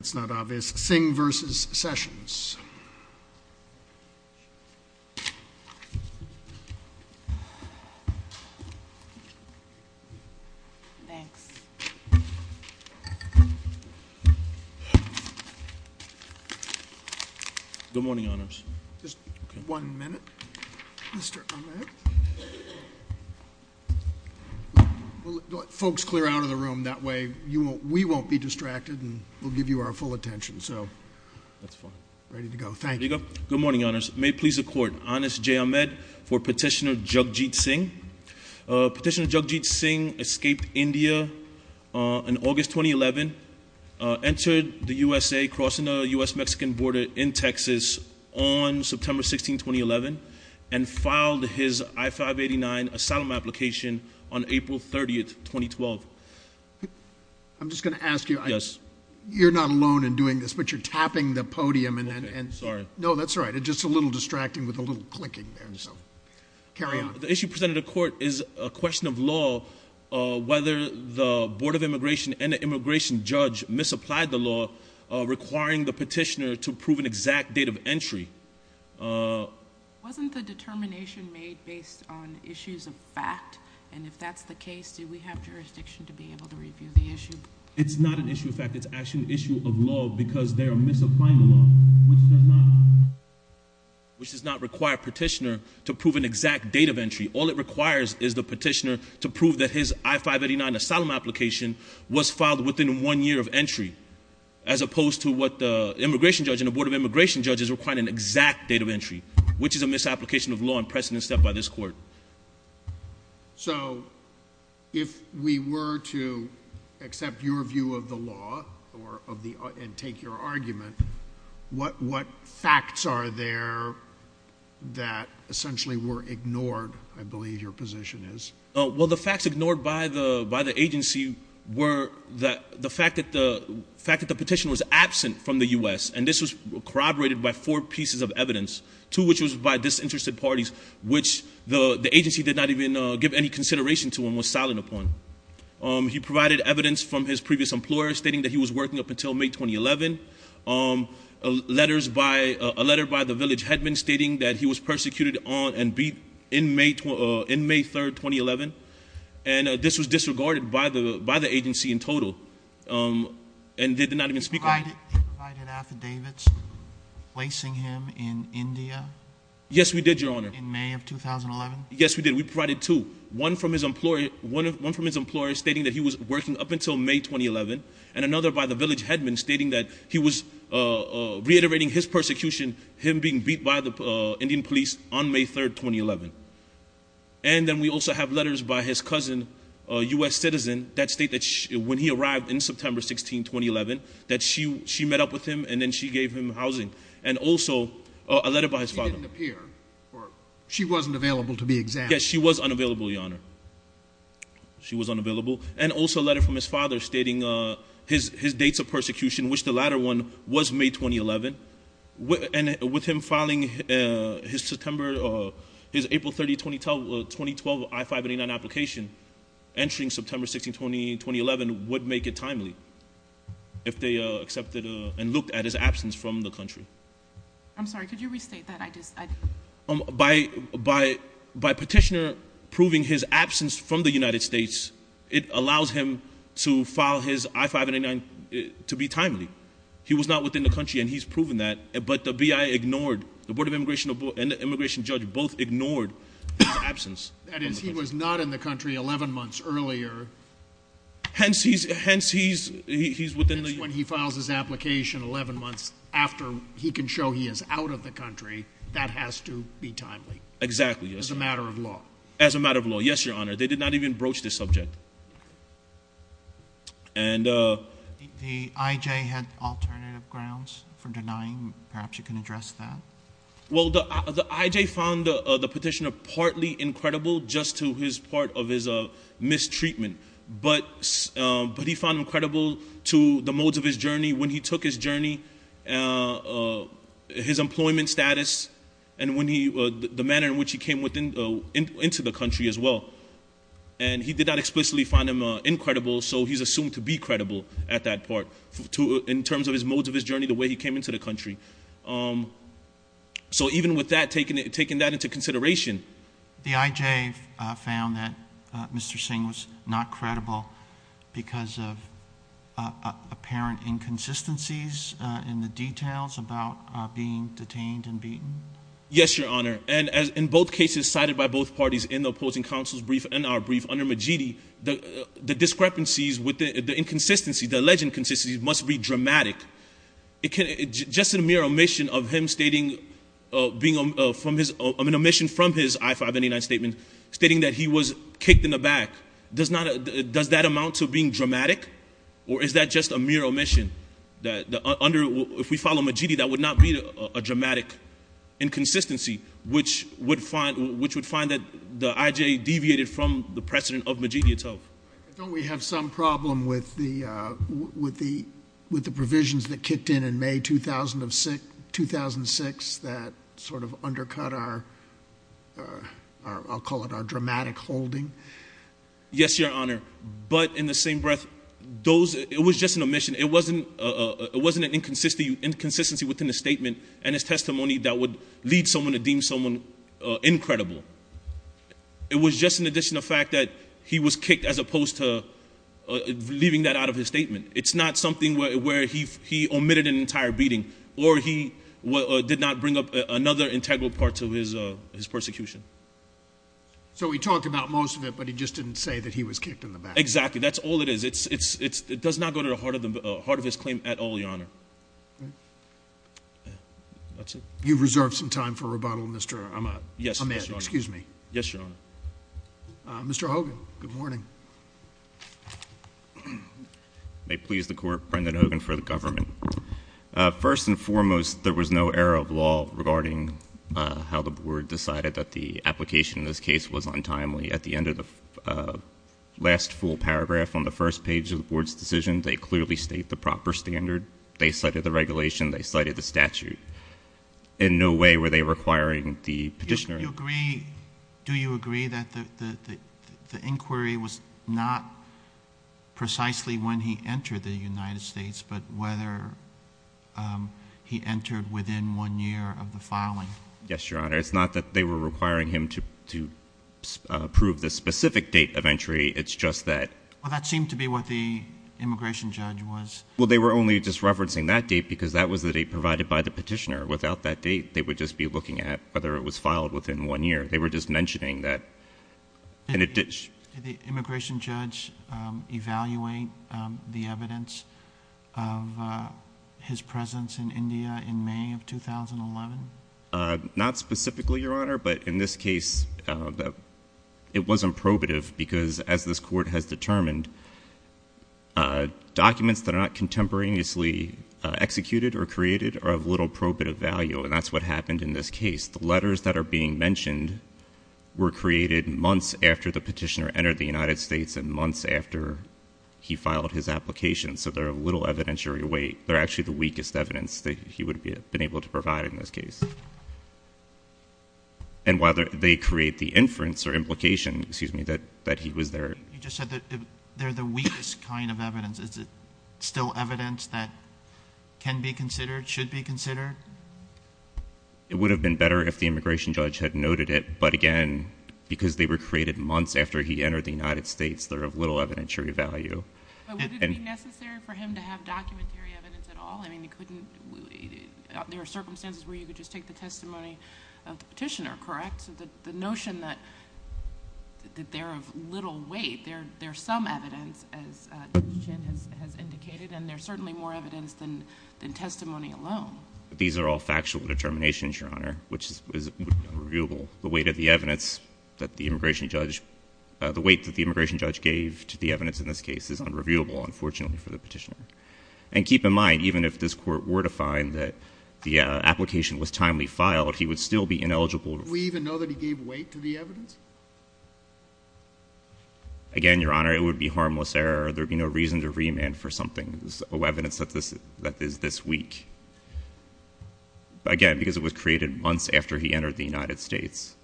It's not obvious. Singh v. Sessions. Good morning, honors. Just one minute. Mr. Ahmed. We'll let folks clear out of the room. That way we won't be distracted and we'll give you our full attention. That's fine. Ready to go. Thank you. Here you go. Good morning, honors. May it please the court. Anas J. Ahmed for Petitioner Jagjit Singh. Petitioner Jagjit Singh escaped India in August 2011, entered the USA crossing the U.S.-Mexican border in Texas on September 16, 2011, and filed his I-589 asylum application on April 30, 2012. I'm just going to ask you. Yes. You're not alone in doing this, but you're tapping the podium. Sorry. No, that's all right. It's just a little distracting with a little clicking there, so carry on. The issue presented to court is a question of law, whether the Board of Immigration and the immigration judge misapplied the law, requiring the petitioner to prove an exact date of entry. Wasn't the determination made based on issues of fact? And if that's the case, do we have jurisdiction to be able to review the issue? It's not an issue of fact. It's actually an issue of law because they're misapplying the law, which does not require a petitioner to prove an exact date of entry. All it requires is the petitioner to prove that his I-589 asylum application was filed within one year of entry, as opposed to what the immigration judge and the Board of Immigration judges requiring an exact date of entry, which is a misapplication of law and precedent set by this court. So if we were to accept your view of the law and take your argument, what facts are there that essentially were ignored, I believe your position is? Well, the facts ignored by the agency were the fact that the petition was absent from the U.S., and this was corroborated by four pieces of evidence, two of which was by disinterested parties, which the agency did not even give any consideration to and was silent upon. He provided evidence from his previous employer stating that he was working up until May 2011, a letter by the village headman stating that he was persecuted on and beat in May 3, 2011, and this was disregarded by the agency in total, and they did not even speak on it. He provided affidavits placing him in India? Yes, we did, Your Honor. In May of 2011? Yes, we did. We provided two. One from his employer stating that he was working up until May 2011, and another by the village headman stating that he was reiterating his persecution, him being beat by the Indian police on May 3, 2011. And then we also have letters by his cousin, a U.S. citizen, that state that when he arrived in September 16, 2011, that she met up with him and then she gave him housing, and also a letter by his father. She didn't appear, or she wasn't available to be examined? Yes, she was unavailable, Your Honor. She was unavailable. And also a letter from his father stating his dates of persecution, which the latter one was May 2011, and with him filing his April 30, 2012 I-589 application entering September 16, 2011, would make it timely if they accepted and looked at his absence from the country. I'm sorry, could you restate that? By petitioner proving his absence from the United States, it allows him to file his I-589 to be timely. He was not within the country, and he's proven that, but the BIA ignored, the Board of Immigration and the immigration judge both ignored his absence. That is, he was not in the country 11 months earlier. Hence, he's within the U.S. When he files his application 11 months after he can show he is out of the country, that has to be timely. Exactly, yes. As a matter of law. As a matter of law, yes, Your Honor. They did not even broach this subject. The IJ had alternative grounds for denying. Perhaps you can address that. Well, the IJ found the petitioner partly incredible just to his part of his mistreatment, but he found him credible to the modes of his journey when he took his journey, his employment status, and the manner in which he came into the country as well. And he did not explicitly find him incredible, so he's assumed to be credible at that part, in terms of his modes of his journey, the way he came into the country. So even with that, taking that into consideration. The IJ found that Mr. Singh was not credible because of apparent inconsistencies in the details about being detained and beaten? Yes, Your Honor. And in both cases cited by both parties in the opposing counsel's brief and our brief, under Majidi, the discrepancies, the inconsistencies, the alleged inconsistencies must be dramatic. Just a mere omission from his I-589 statement stating that he was kicked in the back, does that amount to being dramatic, or is that just a mere omission? If we follow Majidi, that would not be a dramatic inconsistency, which would find that the IJ deviated from the precedent of Majidi itself. Don't we have some problem with the provisions that kicked in in May 2006 that sort of undercut our, I'll call it our dramatic holding? Yes, Your Honor. But in the same breath, it was just an omission. It wasn't an inconsistency within the statement and his testimony that would lead someone to deem someone incredible. It was just in addition to the fact that he was kicked as opposed to leaving that out of his statement. It's not something where he omitted an entire beating, or he did not bring up another integral part of his persecution. So he talked about most of it, but he just didn't say that he was kicked in the back. Exactly. That's all it is. It does not go to the heart of his claim at all, Your Honor. That's it. You've reserved some time for rebuttal, Mr. Ahmed. Yes, Your Honor. Excuse me. Yes, Your Honor. Mr. Hogan, good morning. May it please the Court, Brendan Hogan for the government. First and foremost, there was no error of law regarding how the Board decided that the application in this case was untimely. At the end of the last full paragraph on the first page of the Board's decision, they clearly state the proper standard. They cited the regulation. They cited the statute. In no way were they requiring the petitioner. Do you agree that the inquiry was not precisely when he entered the United States, but whether he entered within one year of the filing? Yes, Your Honor. It's not that they were requiring him to prove the specific date of entry. It's just that— Well, that seemed to be what the immigration judge was— Well, they were only just referencing that date because that was the date provided by the petitioner. Without that date, they would just be looking at whether it was filed within one year. They were just mentioning that. Did the immigration judge evaluate the evidence of his presence in India in May of 2011? Not specifically, Your Honor, but in this case, it wasn't probative because, as this Court has determined, documents that are not contemporaneously executed or created are of little probative value, and that's what happened in this case. The letters that are being mentioned were created months after the petitioner entered the United States and months after he filed his application, so they're of little evidentiary weight. They're actually the weakest evidence that he would have been able to provide in this case. And while they create the inference or implication that he was there— You just said that they're the weakest kind of evidence. Is it still evidence that can be considered, should be considered? It would have been better if the immigration judge had noted it, but again, because they were created months after he entered the United States, they're of little evidentiary value. But would it be necessary for him to have documentary evidence at all? I mean, there are circumstances where you could just take the testimony of the petitioner, correct? The notion that they're of little weight, there's some evidence, as Jen has indicated, and there's certainly more evidence than testimony alone. These are all factual determinations, Your Honor, which would be unreviewable. The weight of the evidence that the immigration judge— the weight that the immigration judge gave to the evidence in this case is unreviewable, unfortunately, for the petitioner. And keep in mind, even if this Court were to find that the application was timely filed, he would still be ineligible. Do we even know that he gave weight to the evidence? Again, Your Honor, it would be harmless error. There would be no reason to remand for something of evidence that is this weak. Again, because it was created months after he entered the United States.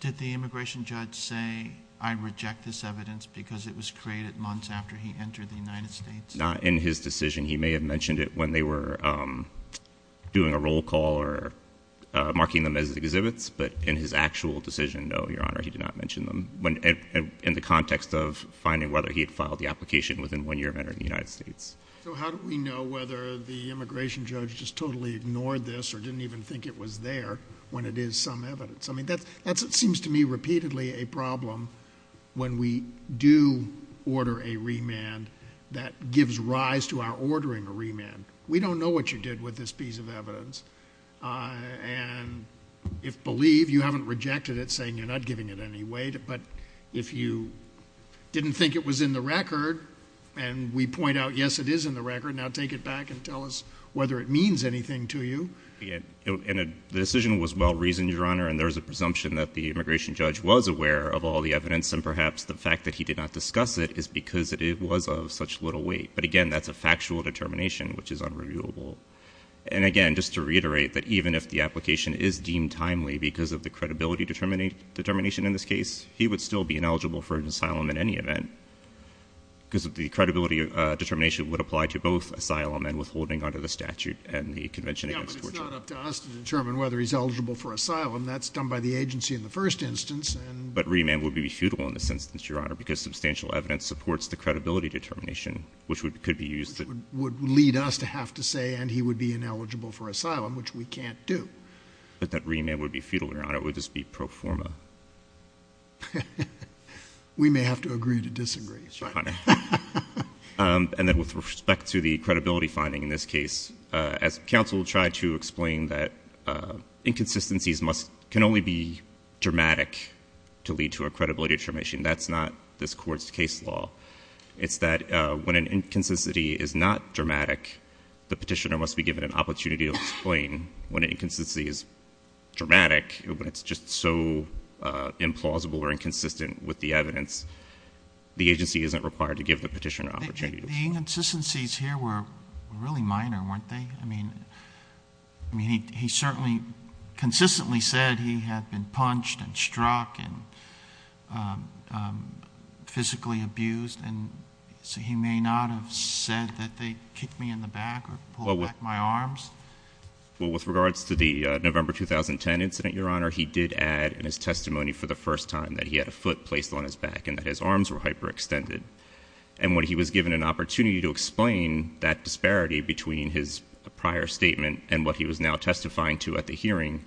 Did the immigration judge say, I reject this evidence because it was created months after he entered the United States? Not in his decision. He may have mentioned it when they were doing a roll call or marking them as exhibits, but in his actual decision, no, Your Honor, he did not mention them, in the context of finding whether he had filed the application within one year of entering the United States. So how do we know whether the immigration judge just totally ignored this or didn't even think it was there when it is some evidence? I mean, that seems to me repeatedly a problem when we do order a remand that gives rise to our ordering a remand. We don't know what you did with this piece of evidence. And if you believe, you haven't rejected it, saying you're not giving it any weight. But if you didn't think it was in the record, and we point out, yes, it is in the record, now take it back and tell us whether it means anything to you. The decision was well-reasoned, Your Honor, and there is a presumption that the immigration judge was aware of all the evidence, and perhaps the fact that he did not discuss it is because it was of such little weight. But again, that's a factual determination, which is unreviewable. And again, just to reiterate that even if the application is deemed timely because of the credibility determination in this case, he would still be ineligible for an asylum in any event because the credibility determination would apply to both asylum and withholding under the statute and the Convention Against Torture. Yeah, but it's not up to us to determine whether he's eligible for asylum. That's done by the agency in the first instance. But remand would be futile in this instance, Your Honor, because substantial evidence supports the credibility determination, which could be used to— Which would lead us to have to say, and he would be ineligible for asylum, which we can't do. But that remand would be futile, Your Honor. It would just be pro forma. We may have to agree to disagree. And then with respect to the credibility finding in this case, as counsel tried to explain that inconsistencies can only be dramatic to lead to a credibility determination, that's not this Court's case law. It's that when an inconsistency is not dramatic, the petitioner must be given an opportunity to explain. When an inconsistency is dramatic, when it's just so implausible or inconsistent with the evidence, the agency isn't required to give the petitioner an opportunity to explain. The inconsistencies here were really minor, weren't they? I mean, he certainly consistently said he had been punched and struck and physically abused, and he may not have said that they kicked me in the back or pulled back my arms. Well, with regards to the November 2010 incident, Your Honor, he did add in his testimony for the first time that he had a foot placed on his back and that his arms were hyperextended. And when he was given an opportunity to explain that disparity between his prior statement and what he was now testifying to at the hearing,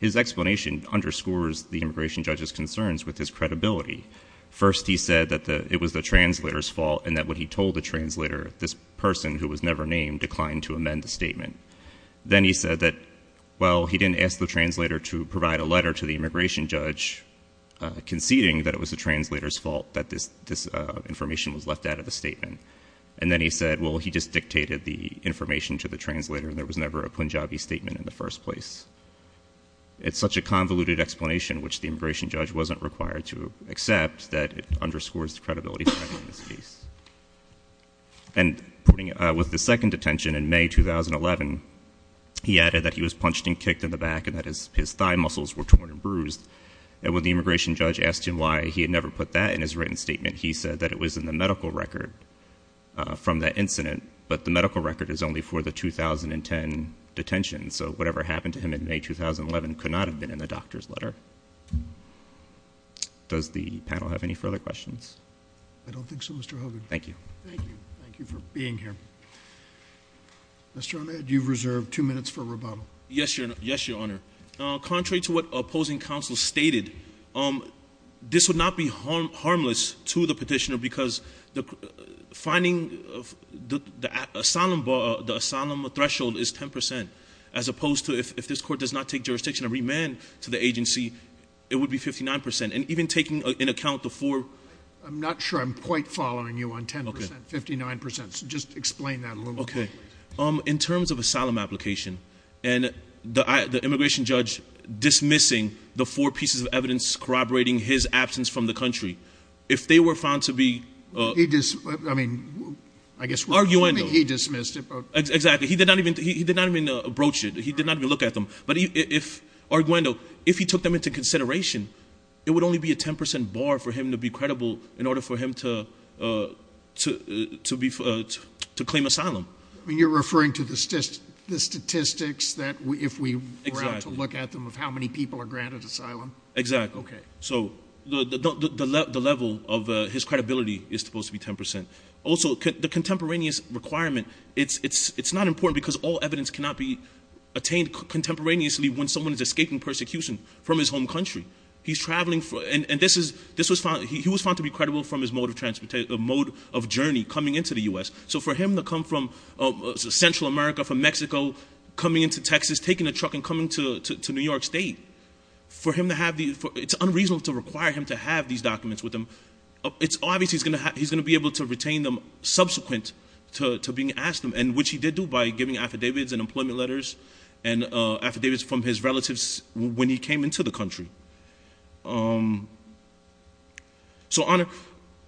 his explanation underscores the immigration judge's concerns with his credibility. First, he said that it was the translator's fault and that when he told the translator, this person who was never named declined to amend the statement. Then he said that, well, he didn't ask the translator to provide a letter to the immigration judge conceding that it was the translator's fault that this information was left out of the statement. And then he said, well, he just dictated the information to the translator and there was never a Punjabi statement in the first place. It's such a convoluted explanation, which the immigration judge wasn't required to accept, that it underscores the credibility of this case. And with the second detention in May 2011, he added that he was punched and kicked in the back and that his thigh muscles were torn and bruised. And when the immigration judge asked him why he had never put that in his written statement, he said that it was in the medical record from that incident, but the medical record is only for the 2010 detention. So whatever happened to him in May 2011 could not have been in the doctor's letter. Does the panel have any further questions? I don't think so, Mr. Hogan. Thank you. Thank you for being here. Mr. Ahmed, you've reserved two minutes for rebuttal. Yes, Your Honor. Contrary to what opposing counsel stated, this would not be harmless to the petitioner because the finding of the asylum threshold is 10 percent, as opposed to if this court does not take jurisdiction and remand to the agency, it would be 59 percent. And even taking into account the four- I'm not sure I'm quite following you on 10 percent, 59 percent. So just explain that a little bit. Okay. In terms of asylum application and the immigration judge dismissing the four pieces of evidence corroborating his absence from the country, if they were found to be- I mean, I guess- Arguendo. He dismissed it. Exactly. He did not even broach it. He did not even look at them. Arguendo, if he took them into consideration, it would only be a 10 percent bar for him to be credible in order for him to claim asylum. You're referring to the statistics that if we were to look at them of how many people are granted asylum? Exactly. Okay. So the level of his credibility is supposed to be 10 percent. Also, the contemporaneous requirement, it's not important because all evidence cannot be found contemporaneously when someone is escaping persecution from his home country. He's traveling for- And this was found- He was found to be credible from his mode of journey coming into the U.S. So for him to come from Central America, from Mexico, coming into Texas, taking a truck and coming to New York State, for him to have these- It's unreasonable to require him to have these documents with him. It's obvious he's going to be able to retain them subsequent to being asked them, which he did do by giving affidavits and employment letters and affidavits from his relatives when he came into the country. So, Honor,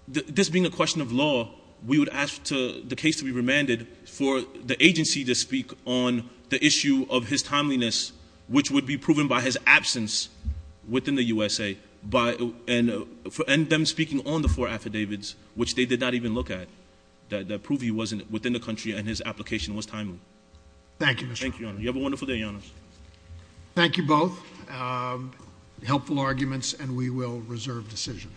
this being a question of law, we would ask the case to be remanded for the agency to speak on the issue of his timeliness, which would be proven by his absence within the USA, and them speaking on the four affidavits, which they did not even look at, that prove he wasn't within the country and his application was timely. Thank you, Mr. Hall. Thank you, Honor. You have a wonderful day, Your Honor. Thank you both. Helpful arguments, and we will reserve decision.